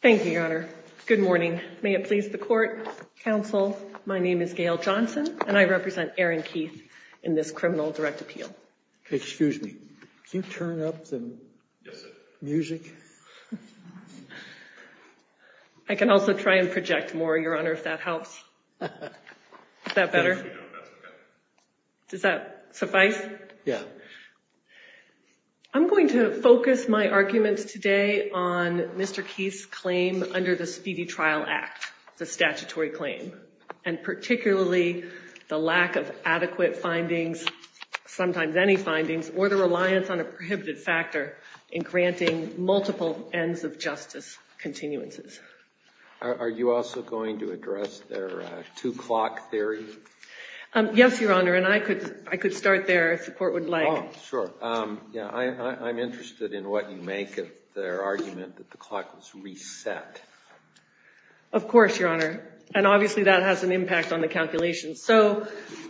Thank you, Your Honor. Good morning. May it please the court, counsel, my name is Gail Johnson and I represent Aaron Keith in this criminal direct appeal. Excuse me, can you turn up the music? I can also try and project more, Your Honor, if that helps. Is that better? Does that suffice? I'm going to focus my arguments today on Mr. Keith's claim under the Speedy Trial Act, the statutory claim, and particularly the lack of adequate findings, sometimes any findings, or the reliance on a prohibited factor in granting multiple ends of justice continuances. Are you also going to address their two-clock theory? Yes, Your Honor, and I could start there if the court would like. Oh, sure. Yeah, I'm interested in what you make of their argument that the clock was reset. Of course, Your Honor, and obviously that has an impact on the calculations. So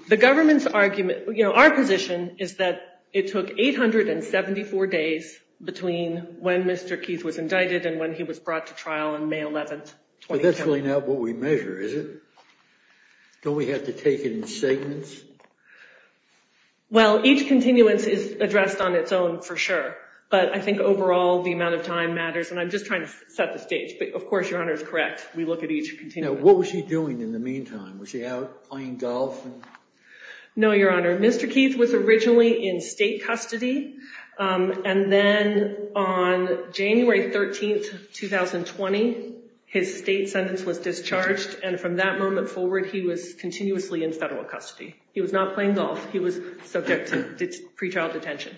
the government's argument, you know, our position is that it took 874 days between when Mr. Keith was indicted and when he was brought to trial on May 11th, 2010. But that's really not what we measure, is it? Don't we have to take it in segments? Well, each continuance is addressed on its own, for sure, but I think overall the amount of time matters, and I'm just trying to set the stage, but of course, Your Honor, is correct. We look at each continuance. Now, what was he doing in the meantime? Was he out playing golf? No, Your Honor. Mr. Keith was originally in state custody, and then on January 13th, 2020, his state sentence was discharged, and from that moment forward he was continuously in federal custody. He was not playing golf. He was subject to pre-trial detention.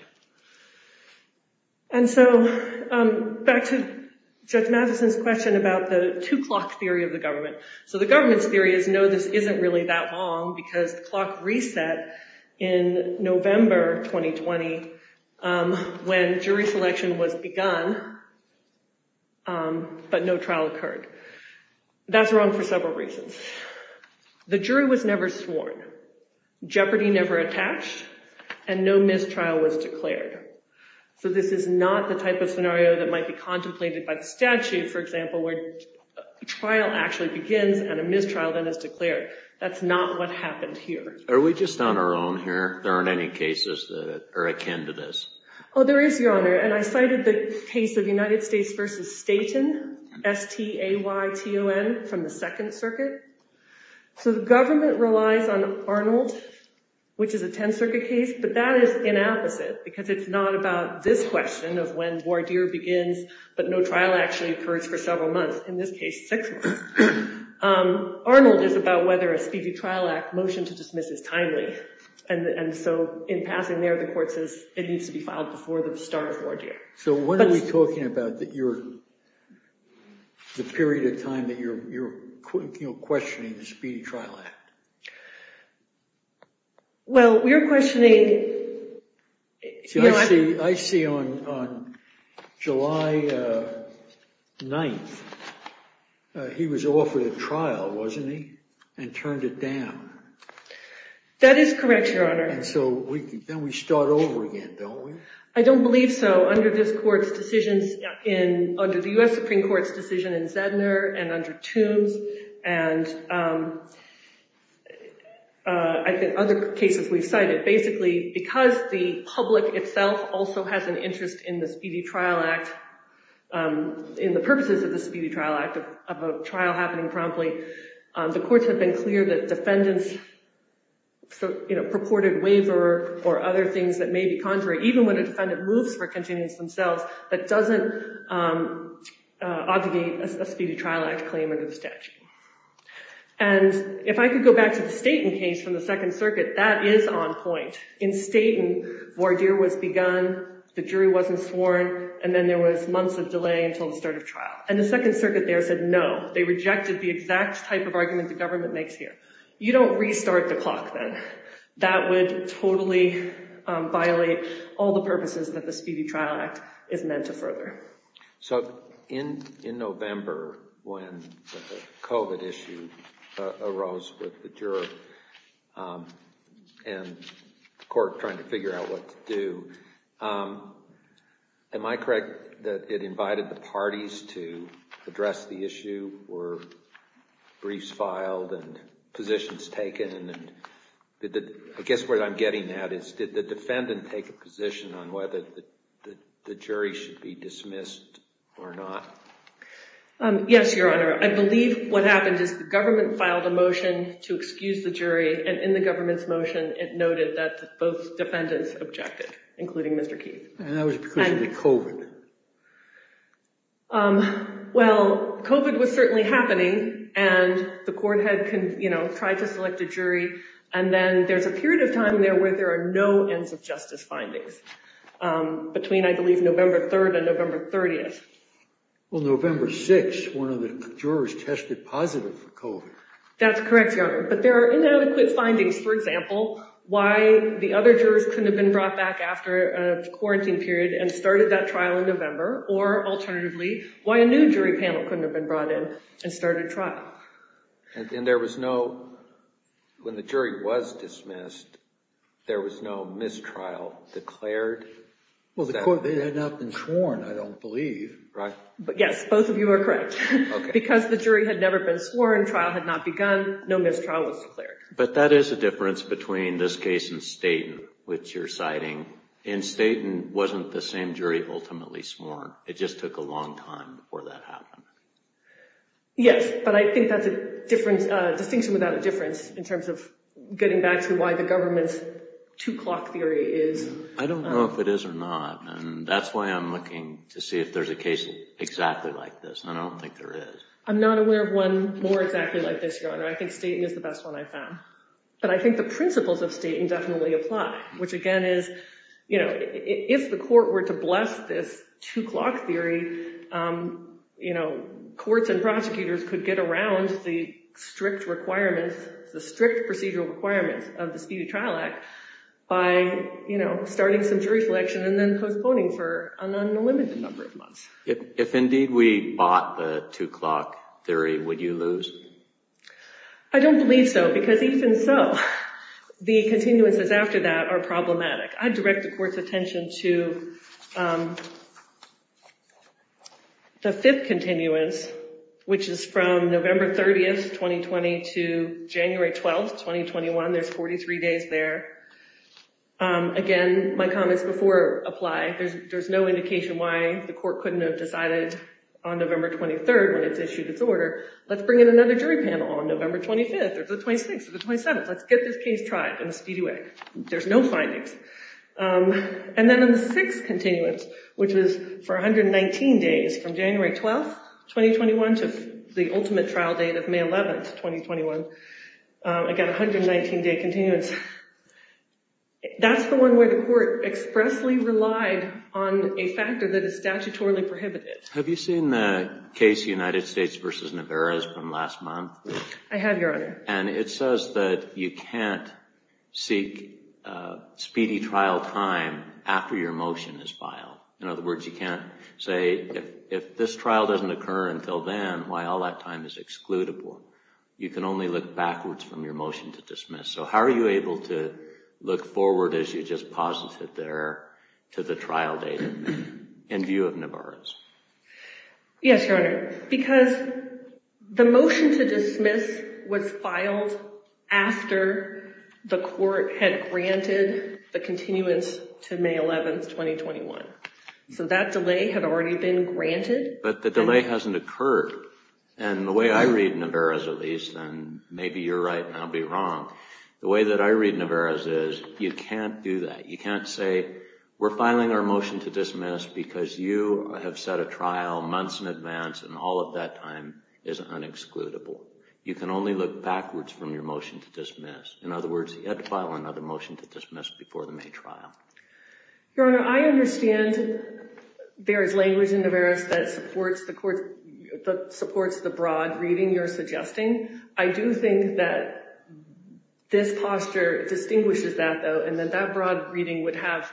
And so back to Judge Matheson's question about the two-clock theory of the government. So the government's theory is, no, this isn't really that long, because the clock reset in November 2020 when jury selection was begun, but no trial occurred. That's wrong for several reasons. The jury was never sworn. Jeopardy never attached, and no mistrial was declared. So this is not the type of scenario that might be contemplated by the statute, for example, where a trial actually begins and a mistrial then is declared. That's not what happened here. Are we just on our own here? There aren't any cases that are akin to this. Oh, there is, Your Honor, and I cited the case of United States v. Staten, S-T-A-Y-T-O-N, from the Second Circuit. So the government relies on Arnold, which is a Tenth Circuit case, but that is inapposite, because it's not about this question of when voir dire begins, but no trial actually occurs for several months, in this case, six months. Arnold is about whether a speedy trial act motion to dismiss is timely, and so in passing there, the court says it needs to be filed before the start of voir dire. So when are we talking about the period of time that you're questioning the speedy trial act? Well, we're questioning... I see on July 9th, he was offered a trial, wasn't he, and turned it down. That is correct, Your Honor. And so then we start over again, don't we? I don't believe so. Under this court's decisions, under the U.S. Supreme Court's decision in Zedner and under Toombs, and I think other cases we've cited, basically, because the public itself also has an interest in the purposes of the speedy trial act, of a trial happening promptly, the courts have been clear that defendants' purported waiver or other things that may be in violation of the speedy trial act claim under the statute. And if I could go back to the Staten case from the Second Circuit, that is on point. In Staten, voir dire was begun, the jury wasn't sworn, and then there was months of delay until the start of trial. And the Second Circuit there said no. They rejected the exact type of argument the government makes here. You don't restart the clock then. That would totally violate all the purposes that the speedy trial act is meant to further. So in November, when the COVID issue arose with the juror and the court trying to figure out what to do, am I correct that it invited the parties to address the issue? Were briefs filed and positions taken? I guess what I'm getting at is, did the defendant take a position on whether the jury should be dismissed or not? Yes, Your Honor. I believe what happened is the government filed a motion to excuse the jury, and in the government's motion, it noted that both defendants objected, including Mr. Keith. And that was because of the COVID. Well, COVID was certainly happening, and the court had tried to select a jury, and then there's a period of time there where there are no ends of justice findings. Between, I believe, November 3rd and November 30th. Well, November 6th, one of the jurors tested positive for COVID. That's correct, Your Honor. But there are inadequate findings, for example, why the other jurors couldn't have been brought back after a quarantine period and started that trial in November, or alternatively, why a new jury panel couldn't have been brought in and started trial. And there was no, when the jury was dismissed, there was no mistrial declared? Well, the court had not been sworn, I don't believe, right? Yes, both of you are correct. Because the jury had never been sworn, trial had not begun, no mistrial was declared. But that is a difference between this case and Staten, which you're citing. And Staten wasn't the same jury ultimately sworn. It just took a long time before that happened. Yes, but I think that's a distinction without a difference in terms of getting back to why the government's two-clock theory is. I don't know if it is or not. And that's why I'm looking to see if there's a case exactly like this. I don't think there is. I'm not aware of one more exactly like this, Your Honor. I think Staten is the best one I found. But I think the principles of Staten definitely apply, which again is, you know, if the court were to bless this two-clock theory, you know, courts and prosecutors could get around the strict requirements, the strict procedural requirements of the Speedy Trial Act by, you know, starting some jury selection and then postponing for an unlimited number of months. If indeed we bought the two-clock theory, would you lose? I don't believe so. Because even so, the continuances after that are problematic. I direct the court's attention to the fifth continuance, which is from November 30th, 2020 to January 12th, 2021. There's 43 days there. Again, my comments before apply. There's no indication why the court couldn't have decided on November 23rd when it's issued its order. Let's bring in another jury panel on November 25th or the 26th or the 27th. Let's get this case tried in a speedy way. There's no findings. And then on the sixth continuance, which is for 119 days from January 12th, 2021 to the ultimate trial date of May 11th, 2021. Again, 119-day continuance. That's the one where the court expressly relied on a factor that is statutorily prohibited. Have you seen the case United States v. Niveros from last month? I have, Your Honor. And it says that you can't seek speedy trial time after your motion is filed. In other words, you can't say, if this trial doesn't occur until then, why all that time is excludable? You can only look backwards from your motion to dismiss. So how are you able to look forward as you just posited there to the trial date in view of Niveros? Yes, Your Honor. Because the motion to dismiss was filed after the court had granted the continuance to May 11th, 2021. So that delay had already been granted. But the delay hasn't occurred. And the way I read Niveros, at least, and maybe you're right and I'll be wrong. The way that I read Niveros is you can't do that. You can't say, we're filing our motion to dismiss because you have set a trial months in advance and all of that time is unexcludable. You can only look backwards from your motion to dismiss. In other words, you have to file another motion to dismiss before the May trial. Your Honor, I understand there is language in Niveros that supports the court, that supports the broad reading you're suggesting. I do think that this posture distinguishes that, though, and that that broad reading would have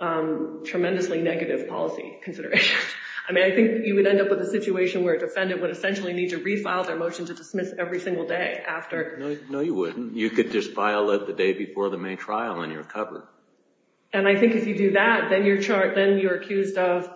tremendously negative policy consideration. I mean, I think you would end up with a situation where a defendant would essentially need to refile their motion to dismiss every single day after. No, you wouldn't. You could just file it the day before the May trial and you're covered. And I think if you do that, then you're accused of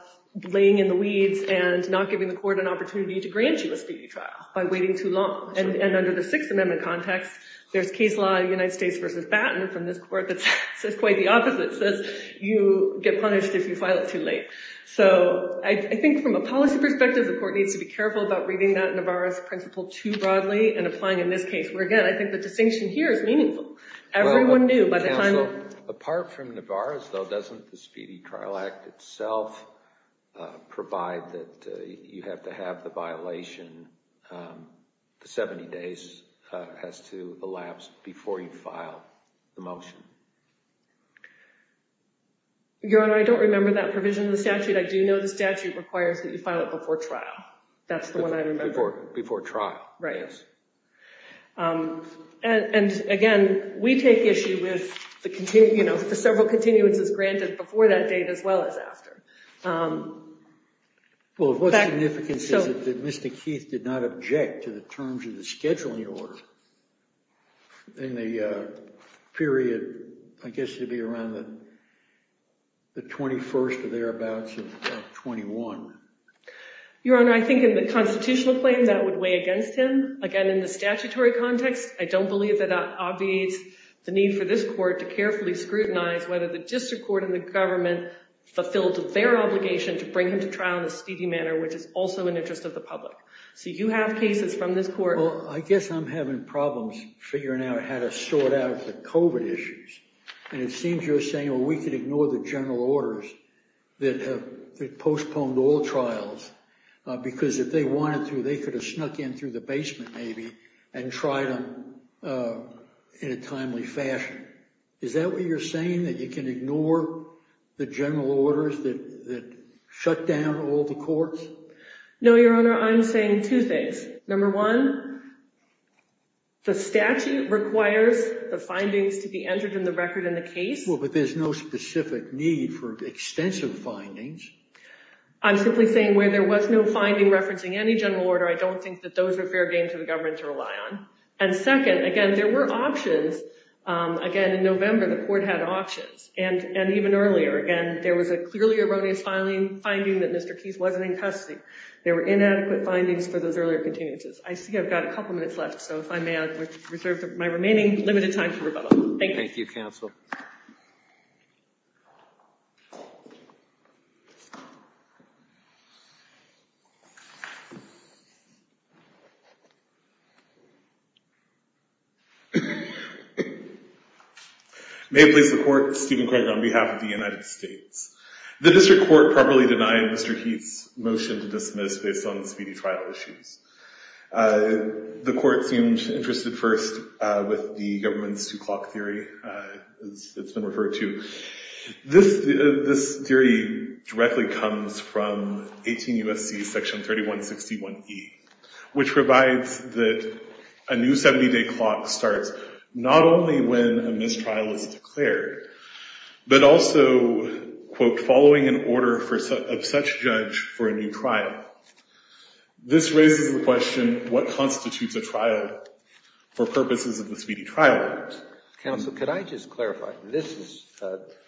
laying in the weeds and not giving the court an opportunity to grant you a state trial by waiting too long. And under the Sixth Amendment context, there's case law in United States v. Batten from this court that says quite the opposite, says you get punished if you file it too late. So I think from a policy perspective, the court needs to be careful about reading that Niveros principle too broadly and applying in this case. Where again, I think the distinction here is meaningful. Everyone knew by the time... Apart from Niveros, though, doesn't the Speedy Trial Act itself provide that you have to have the violation the 70 days has to elapse before you file the motion? Your Honor, I don't remember that provision in the statute. I do know the statute requires that you file it before trial. That's the one I remember. Before trial. Right, yes. And again, we take issue with the several continuances granted before that date as well as after. Well, what significance is it that Mr. Keith did not object to the terms of the scheduling order in the period, I guess it'd be around the 21st or thereabouts of 21? Your Honor, I think in the constitutional claim, that would weigh against him. Again, in the statutory context, I don't believe that obviates the need for this court to carefully scrutinize whether the district court and the government fulfilled their obligation to bring him to trial in a speedy manner, which is also in the interest of the public. So you have cases from this court. Well, I guess I'm having problems figuring out how to sort out the COVID issues. And it seems you're saying, well, we could ignore the general orders that have postponed all trials because if they wanted to, they could have snuck in through the basement maybe and tried them in a timely fashion. Is that what you're saying, that you can ignore the general orders that shut down all the courts? No, Your Honor, I'm saying two things. Number one, the statute requires the findings to be entered in the record in the case. Well, but there's no specific need for extensive findings. I'm simply saying where there was no finding referencing any general order, I don't think that those are fair game to the government to rely on. And second, again, there were options. Again, in November, the court had options. And even earlier, again, there was a clearly erroneous finding that Mr. Keyes wasn't in custody. There were inadequate findings for those earlier continuances. I see I've got a couple minutes left. So if I may, I would reserve my remaining limited time for rebuttal. Thank you. Thank you, counsel. May it please the court, Stephen Craig on behalf of the United States. The district court properly denied Mr. Keyes' motion to dismiss based on the speedy trial issues. The court seemed interested first with the government's two-clock theory it's been referred to. This theory directly comes from 18 U.S.C. Section 3161E, which provides that a new 70-day clock starts not only when a mistrial is declared, but also, quote, following an order of such judge for a new trial. This raises the question, what constitutes a trial for purposes of the Speedy Trial Act? Counsel, could I just clarify? This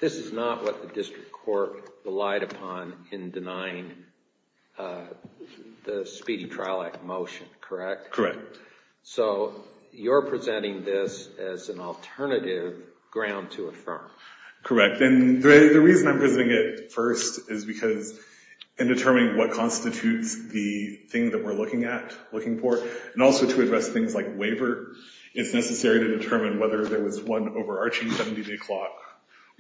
is not what the district court relied upon in denying the Speedy Trial Act motion, correct? Correct. So you're presenting this as an alternative ground to affirm. Correct. And the reason I'm presenting it first is because in determining what constitutes the thing that we're looking at, looking for, and also to address things like waiver, it's necessary to determine whether there was one overarching 70-day clock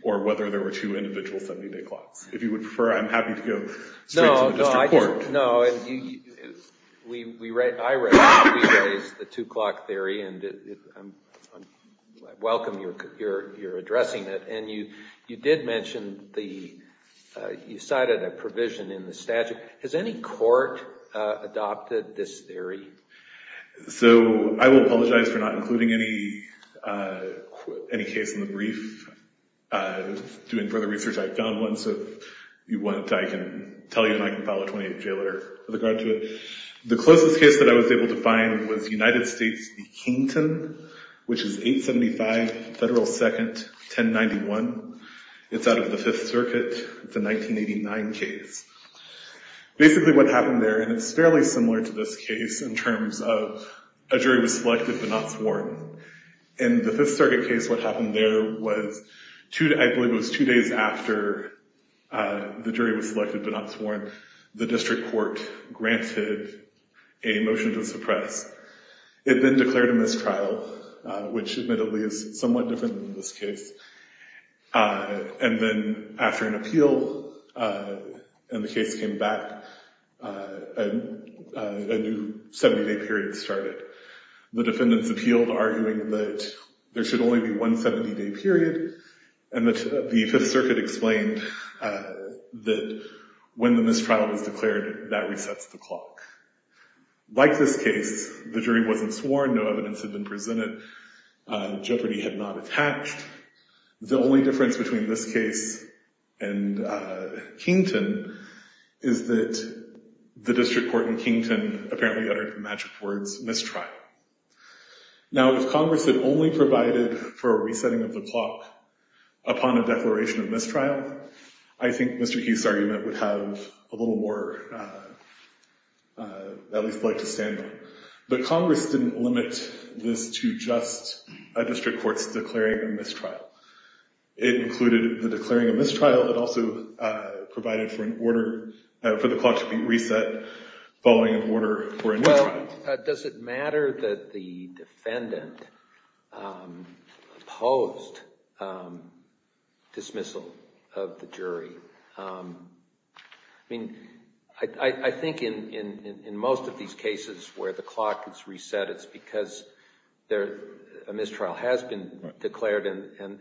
or whether there were two individual 70-day clocks. If you would prefer, I'm happy to go straight to the district court. No, no. I raise the two-clock theory and I welcome your addressing it. And you did mention you cited a provision in the statute. Has any court adopted this theory? So I will apologize for not including any case in the brief. Doing further research, I found one. So if you want, I can tell you and I can file a 28-day letter with regard to it. The closest case that I was able to find was United States v. Kington, which is 875 Federal 2nd, 1091. It's out of the Fifth Circuit. It's a 1989 case. Basically what happened there, and it's fairly similar to this case in terms of a jury was selected but not sworn. In the Fifth Circuit case, what happened there was, I believe it was two days after the jury was selected but not sworn, the district court granted a motion to suppress. It then declared a mistrial, which admittedly is somewhat different than this case. And then after an appeal and the case came back, a new 70-day period started. The defendants appealed, arguing that there should only be one 70-day period and that the Fifth Circuit explained that when the mistrial was declared, that resets the clock. Like this case, the jury wasn't sworn. No evidence had been presented. Jeopardy had not attached. The only difference between this case and Kington is that the district court in Kington apparently uttered the magic words, mistrial. Now, if Congress had only provided for a resetting of the clock upon a declaration of mistrial, I think Mr. Hughes's argument would have a little more, at least like to stand on. But Congress didn't limit this to just a district court's declaring a mistrial. It included the declaring of mistrial. It also provided for an order for the clock to be reset following an order for a new trial. Well, does it matter that the defendant opposed dismissal of the jury? I mean, I think in most of these cases where the clock is reset, it's because a mistrial has been declared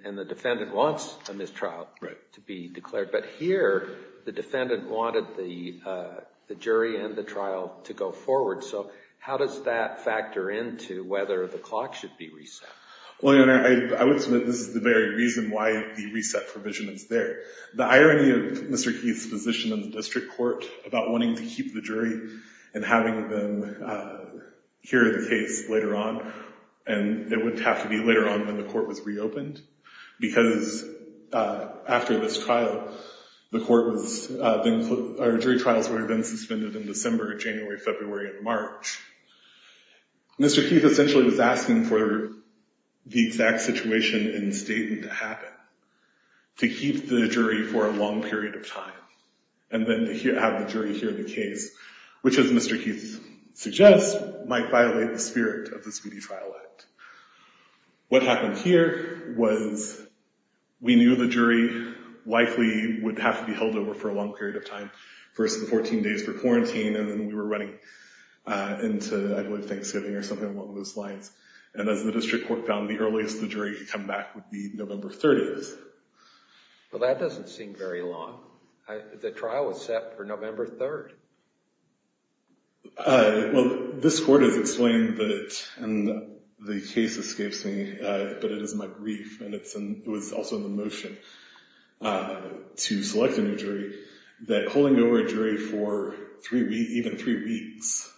and the defendant wants a mistrial to be declared. But here, the defendant wanted the jury and the trial to go forward. So how does that factor into whether the clock should be reset? Well, Your Honor, I would submit this is the very reason why the reset provision is there. The irony of Mr. Keith's position in the district court about wanting to keep the jury and having them hear the case later on, and it would have to be later on when the court was reopened because after this trial, the court was then, our jury trials were then suspended in December, January, February, and March. Mr. Keith essentially was asking for the exact situation in Staten to happen, to keep the jury for a long period of time, and then to have the jury hear the case, which as Mr. Keith suggests, might violate the spirit of the Speedy Trial Act. What happened here was we knew the jury likely would have to be held over for a long period of time, first the 14 days for quarantine, and then we were running into, I believe, Thanksgiving or something along those lines. And as the district court found, the earliest the jury could come back would be November 30th. Well, that doesn't seem very long. The trial was set for November 3rd. Well, this court has explained that the case escapes me, but it is my grief, and it was also in the motion to select a new jury, that holding over a jury for even three weeks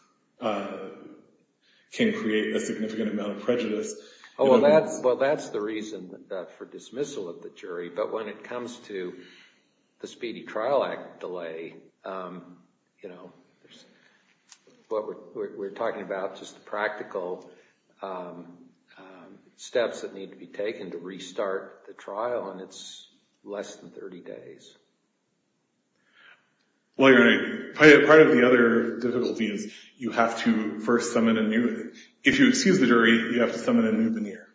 can create a significant amount of prejudice. Oh, well, that's the reason for dismissal of the jury. But when it comes to the Speedy Trial Act delay, we're talking about just the practical steps that need to be taken to restart the trial, and it's less than 30 days. Well, your Honor, is you have to first summon a new... If you excuse the jury, you have to summon a new veneer.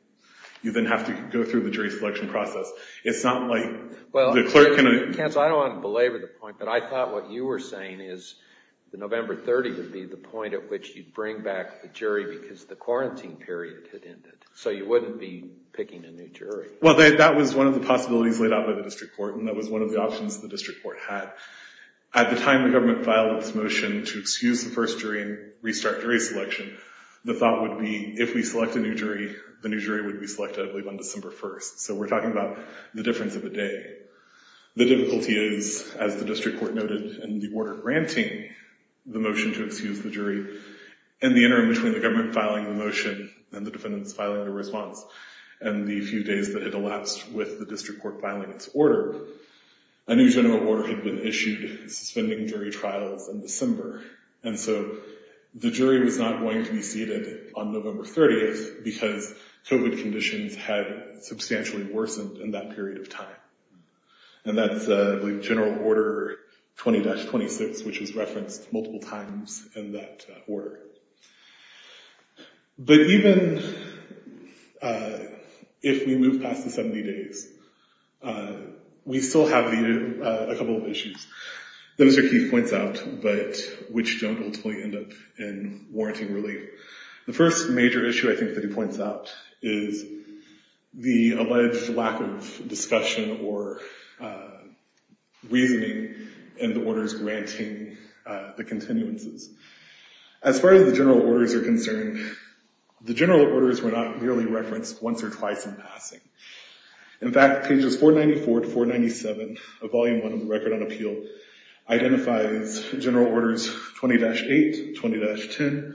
You then have to go through the jury selection process. It's not like the clerk can... Counsel, I don't want to belabor the point, but I thought what you were saying is that November 30th would be the point at which you'd bring back the jury because the quarantine period had ended, so you wouldn't be picking a new jury. Well, that was one of the possibilities laid out by the district court, and that was one of the options the district court had. At the time the government filed this motion to excuse the first jury and restart jury selection, the thought would be if we select a new jury, the new jury would be selected, I believe, on December 1st, so we're talking about the difference of a day. The difficulty is, as the district court noted in the order granting the motion to excuse the jury, in the interim between the government filing the motion and the defendants filing the response and the few days that had elapsed with the district court filing its order, a new general order had been issued suspending jury trials in December, and so the jury was not going to be seated on November 30th because COVID conditions had substantially worsened in that period of time. And that's, I believe, general order 20-26, which is referenced multiple times in that order. But even if we move past the 70 days, we still have a couple of issues that Mr. Keith points out, but which don't ultimately end up in warranting relief. The first major issue, I think, that he points out is the alleged lack of discussion or reasoning in the orders granting the continuances. As far as the general orders are concerned, the general orders were not merely referenced once or twice in passing. In fact, pages 494 to 497 of Volume 1 of the Record on Appeal identifies general orders 20-8, 20-10, 20-13,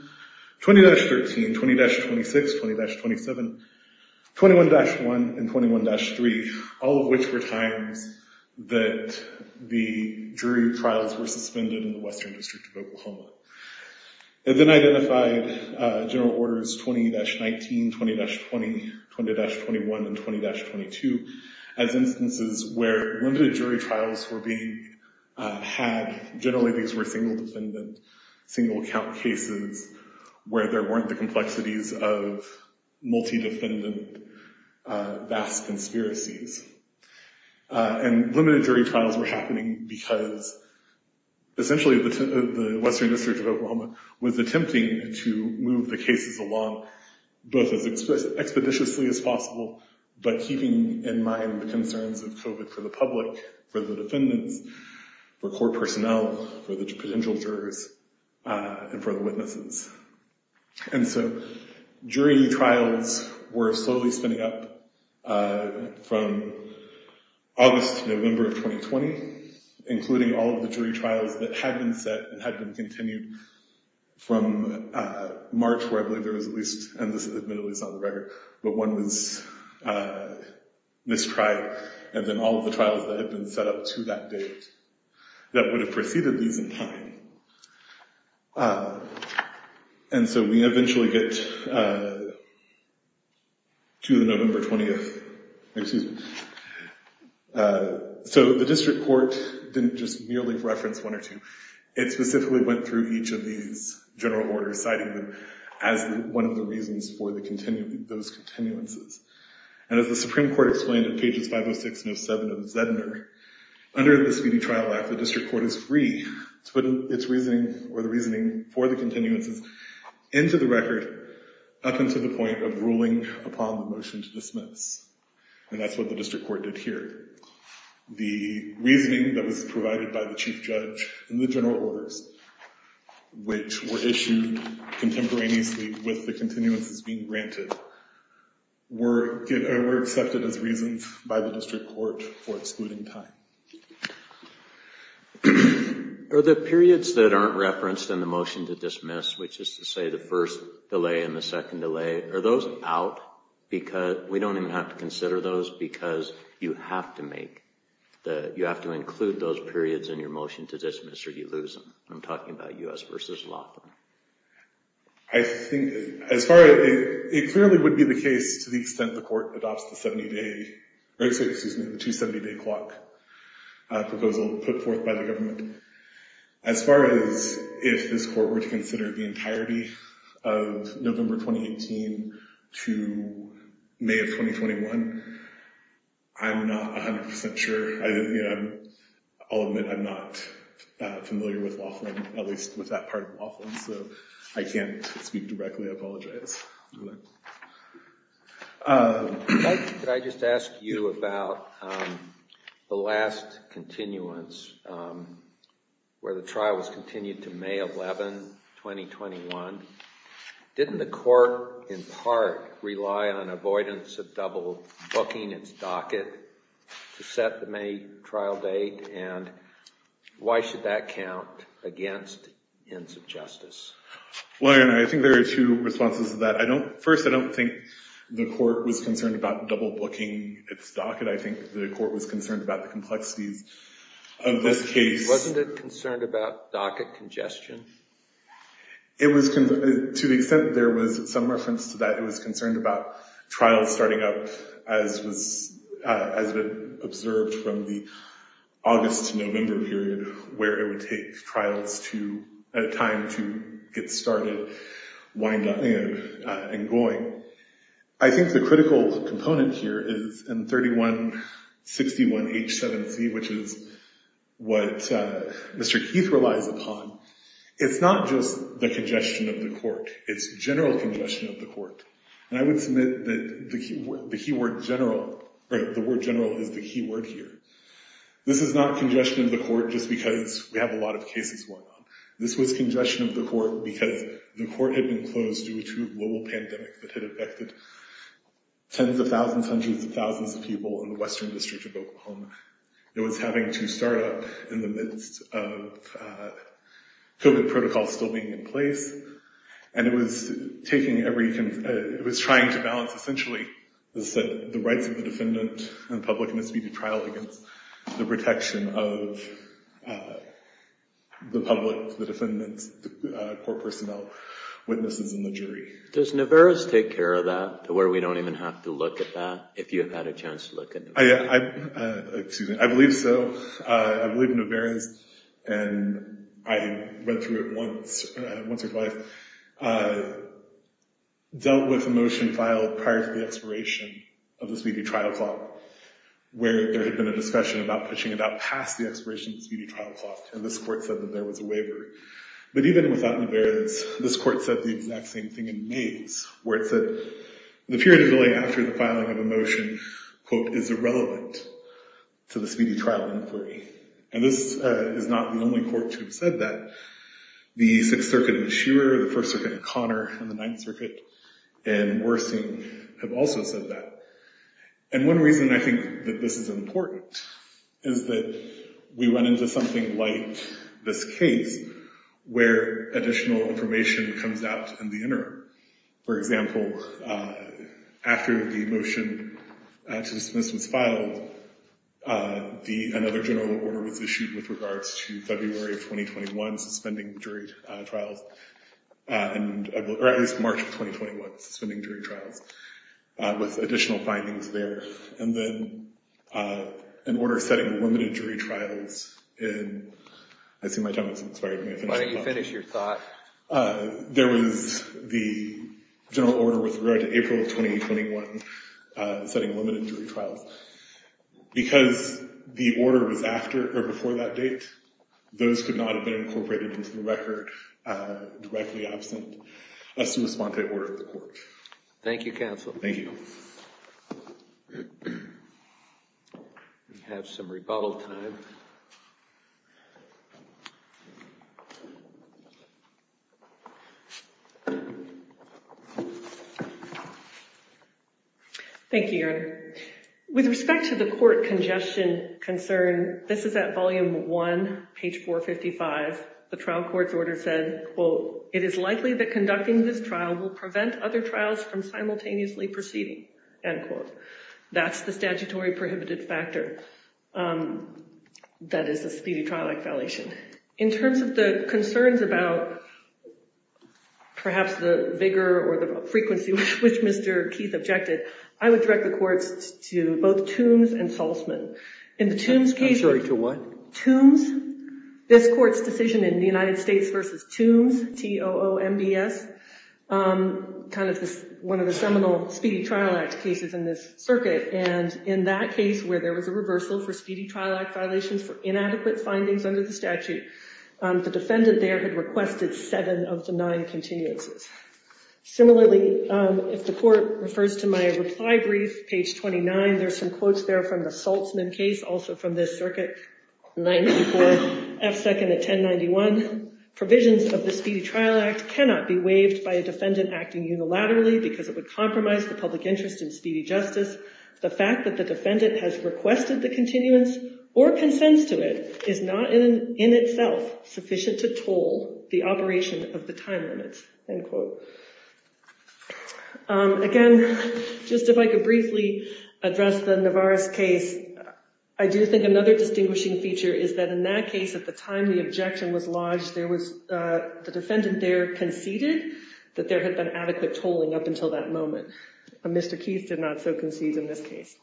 20-26, 20-27, 21-1, and 21-3, all of which were times that the jury trials were suspended in the Western District of Oklahoma. It then identified general orders 20-19, 20-20, 20-21, and 20-22 as instances where limited jury trials were being had. Generally, these were single defendant, single count cases where there weren't the complexities of multi-defendant, vast conspiracies. And limited jury trials were happening because essentially the Western District of Oklahoma was attempting to move the cases along both as expeditiously as possible, but keeping in mind the concerns of COVID for the public, for the defendants, for court personnel, for the potential jurors, and for the witnesses. And so jury trials were slowly spinning up from August to November of 2020, including all of the jury trials that had been set and had been continued from March, where I believe there was at least, and this admittedly is on the record, but one was mistried, and then all of the trials that had been set up to that date that would have preceded these in time. And so we eventually get to the November 20th. Excuse me. So the district court didn't just merely reference one or two. It specifically went through each of these general orders, citing them as one of the reasons for those continuances. And as the Supreme Court explained in pages 506 and 507 of Zedner, under the Speedy Trial Act, the district court is free to put its reasoning or the reasoning for the continuances into the record up until the point of ruling upon the motion to dismiss. And that's what the district court did here. The reasoning that was provided by the chief judge in the general orders, which were issued contemporaneously with the continuances being granted, were accepted as reasons by the district court for excluding time. Are the periods that aren't referenced in the motion to dismiss, which is to say the first delay and the second delay, are those out? We don't even have to consider those because you have to make the... You have to include those periods in your motion to dismiss or you lose them. I'm talking about U.S. v. Laughlin. I think as far as... It clearly would be the case to the extent the court adopts the 70-day... Excuse me, the 270-day clock proposal put forth by the government. As far as if this court were to consider the entirety of November 2018 to May of 2021, I'm not 100% sure. I'll admit I'm not familiar with Laughlin, so I can't speak directly. I apologize. Go ahead. Could I just ask you about the last continuance where the trial was continued to May 11, 2021. Didn't the court in part rely on avoidance of double booking its docket to set the May trial date? And why should that count against ends of justice? Well, I think there are two responses to that. First, I don't think the court was concerned about double booking its docket. I think the court was concerned about the complexities of this case. Wasn't it concerned about docket congestion? To the extent there was some reference to that, it was concerned about trials starting up as was observed from the August to November period where it would take trials at a time to get started. Wind up and going. I think the critical component here is in 3161 H7C, which is what Mr. Keith relies upon. It's not just the congestion of the court. It's general congestion of the court. And I would submit that the key word general, or the word general is the key word here. This is not congestion of the court just because we have a lot of cases going on. This was congestion of the court because the court had been closed due to a global pandemic that had affected tens of thousands, hundreds of thousands of people in the Western District of Oklahoma. It was having to start up in the midst of COVID protocols still being in place. And it was taking every... It was trying to balance, essentially, the rights of the defendant and the public must be to trial against the protection of the public, the defendant's court personnel, witnesses, and the jury. Does Niveras take care of that to where we don't even have to look at that if you have had a chance to look at Niveras? Yeah, I believe so. I believe Niveras, and I read through it once or twice, dealt with a motion filed prior to the expiration of the Speedy Trial Clause, where there had been a discussion about pushing it out past the expiration of the Speedy Trial Clause. And this court said that there was a waiver. But even without Niveras, this court said the exact same thing in Mays, where it said the period of delay after the filing of a motion, quote, is irrelevant to the Speedy Trial inquiry. And this is not the only court to have said that. The Sixth Circuit in Meshour, the First Circuit in Connor, and the Ninth Circuit in Worsing have also said that. And one reason I think that this is important is that we went into something like this case where additional information comes out in the interim. For example, after the motion to dismiss was filed, another general order was issued with regards to February of 2021 suspending jury trials, and at least March of 2021 suspending jury trials with additional findings there. And then an order setting limited jury trials in— I see my time has expired. Let me finish. Why don't you finish your thought? There was the general order with regard to April of 2021 setting limited jury trials. Because the order was after or before that date, those could not have been incorporated into the record directly absent as to respond to the order of the court. Thank you, counsel. Thank you. We have some rebuttal time. Thank you, Your Honor. With respect to the court congestion concern, this is at volume one, page 455. The trial court's order said, quote, it is likely that conducting this trial will prevent other trials from simultaneously proceeding, end quote. That's the statutory prohibited factor that is a speedy trial act violation. In terms of the concerns about perhaps the vigor or the frequency which Mr. Keith objected, I would direct the courts to both Toombs and Saltzman. In the Toombs case— I'm sorry, to what? Toombs, this court's decision in the United States versus Toombs, T-O-O-M-B-S, kind of one of the seminal speedy trial act cases in this circuit. And in that case where there was a reversal for speedy trial act violations for inadequate findings under the statute, the defendant there had requested seven of the nine continuances. Similarly, if the court refers to my reply brief, page 29, there's some quotes there from the Saltzman case, also from this circuit, 94, F second at 1091. Provisions of the speedy trial act cannot be waived by a defendant acting unilaterally because it would compromise the public interest in speedy justice. The fact that the defendant has requested the continuance or consents to it is not in itself sufficient to toll the operation of the time limits, end quote. Again, just if I could briefly address the Navarres case, I do think another distinguishing feature is that in that case at the time the objection was lodged, there was—the defendant there conceded that there had been adequate tolling up until that moment. Mr. Keith did not so concede in this case.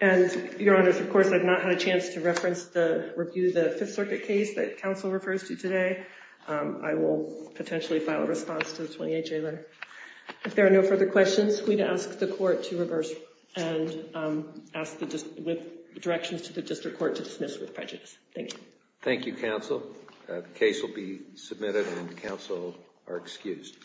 And your honors, of course, I've not had a chance to reference the— review the Fifth Circuit case that counsel refers to today. I will potentially file a response to the 28-J letter. If there are no further questions, we'd ask the court to reverse and ask the—with directions to the district court to dismiss with prejudice. Thank you. Thank you, counsel. The case will be submitted and counsel are excused.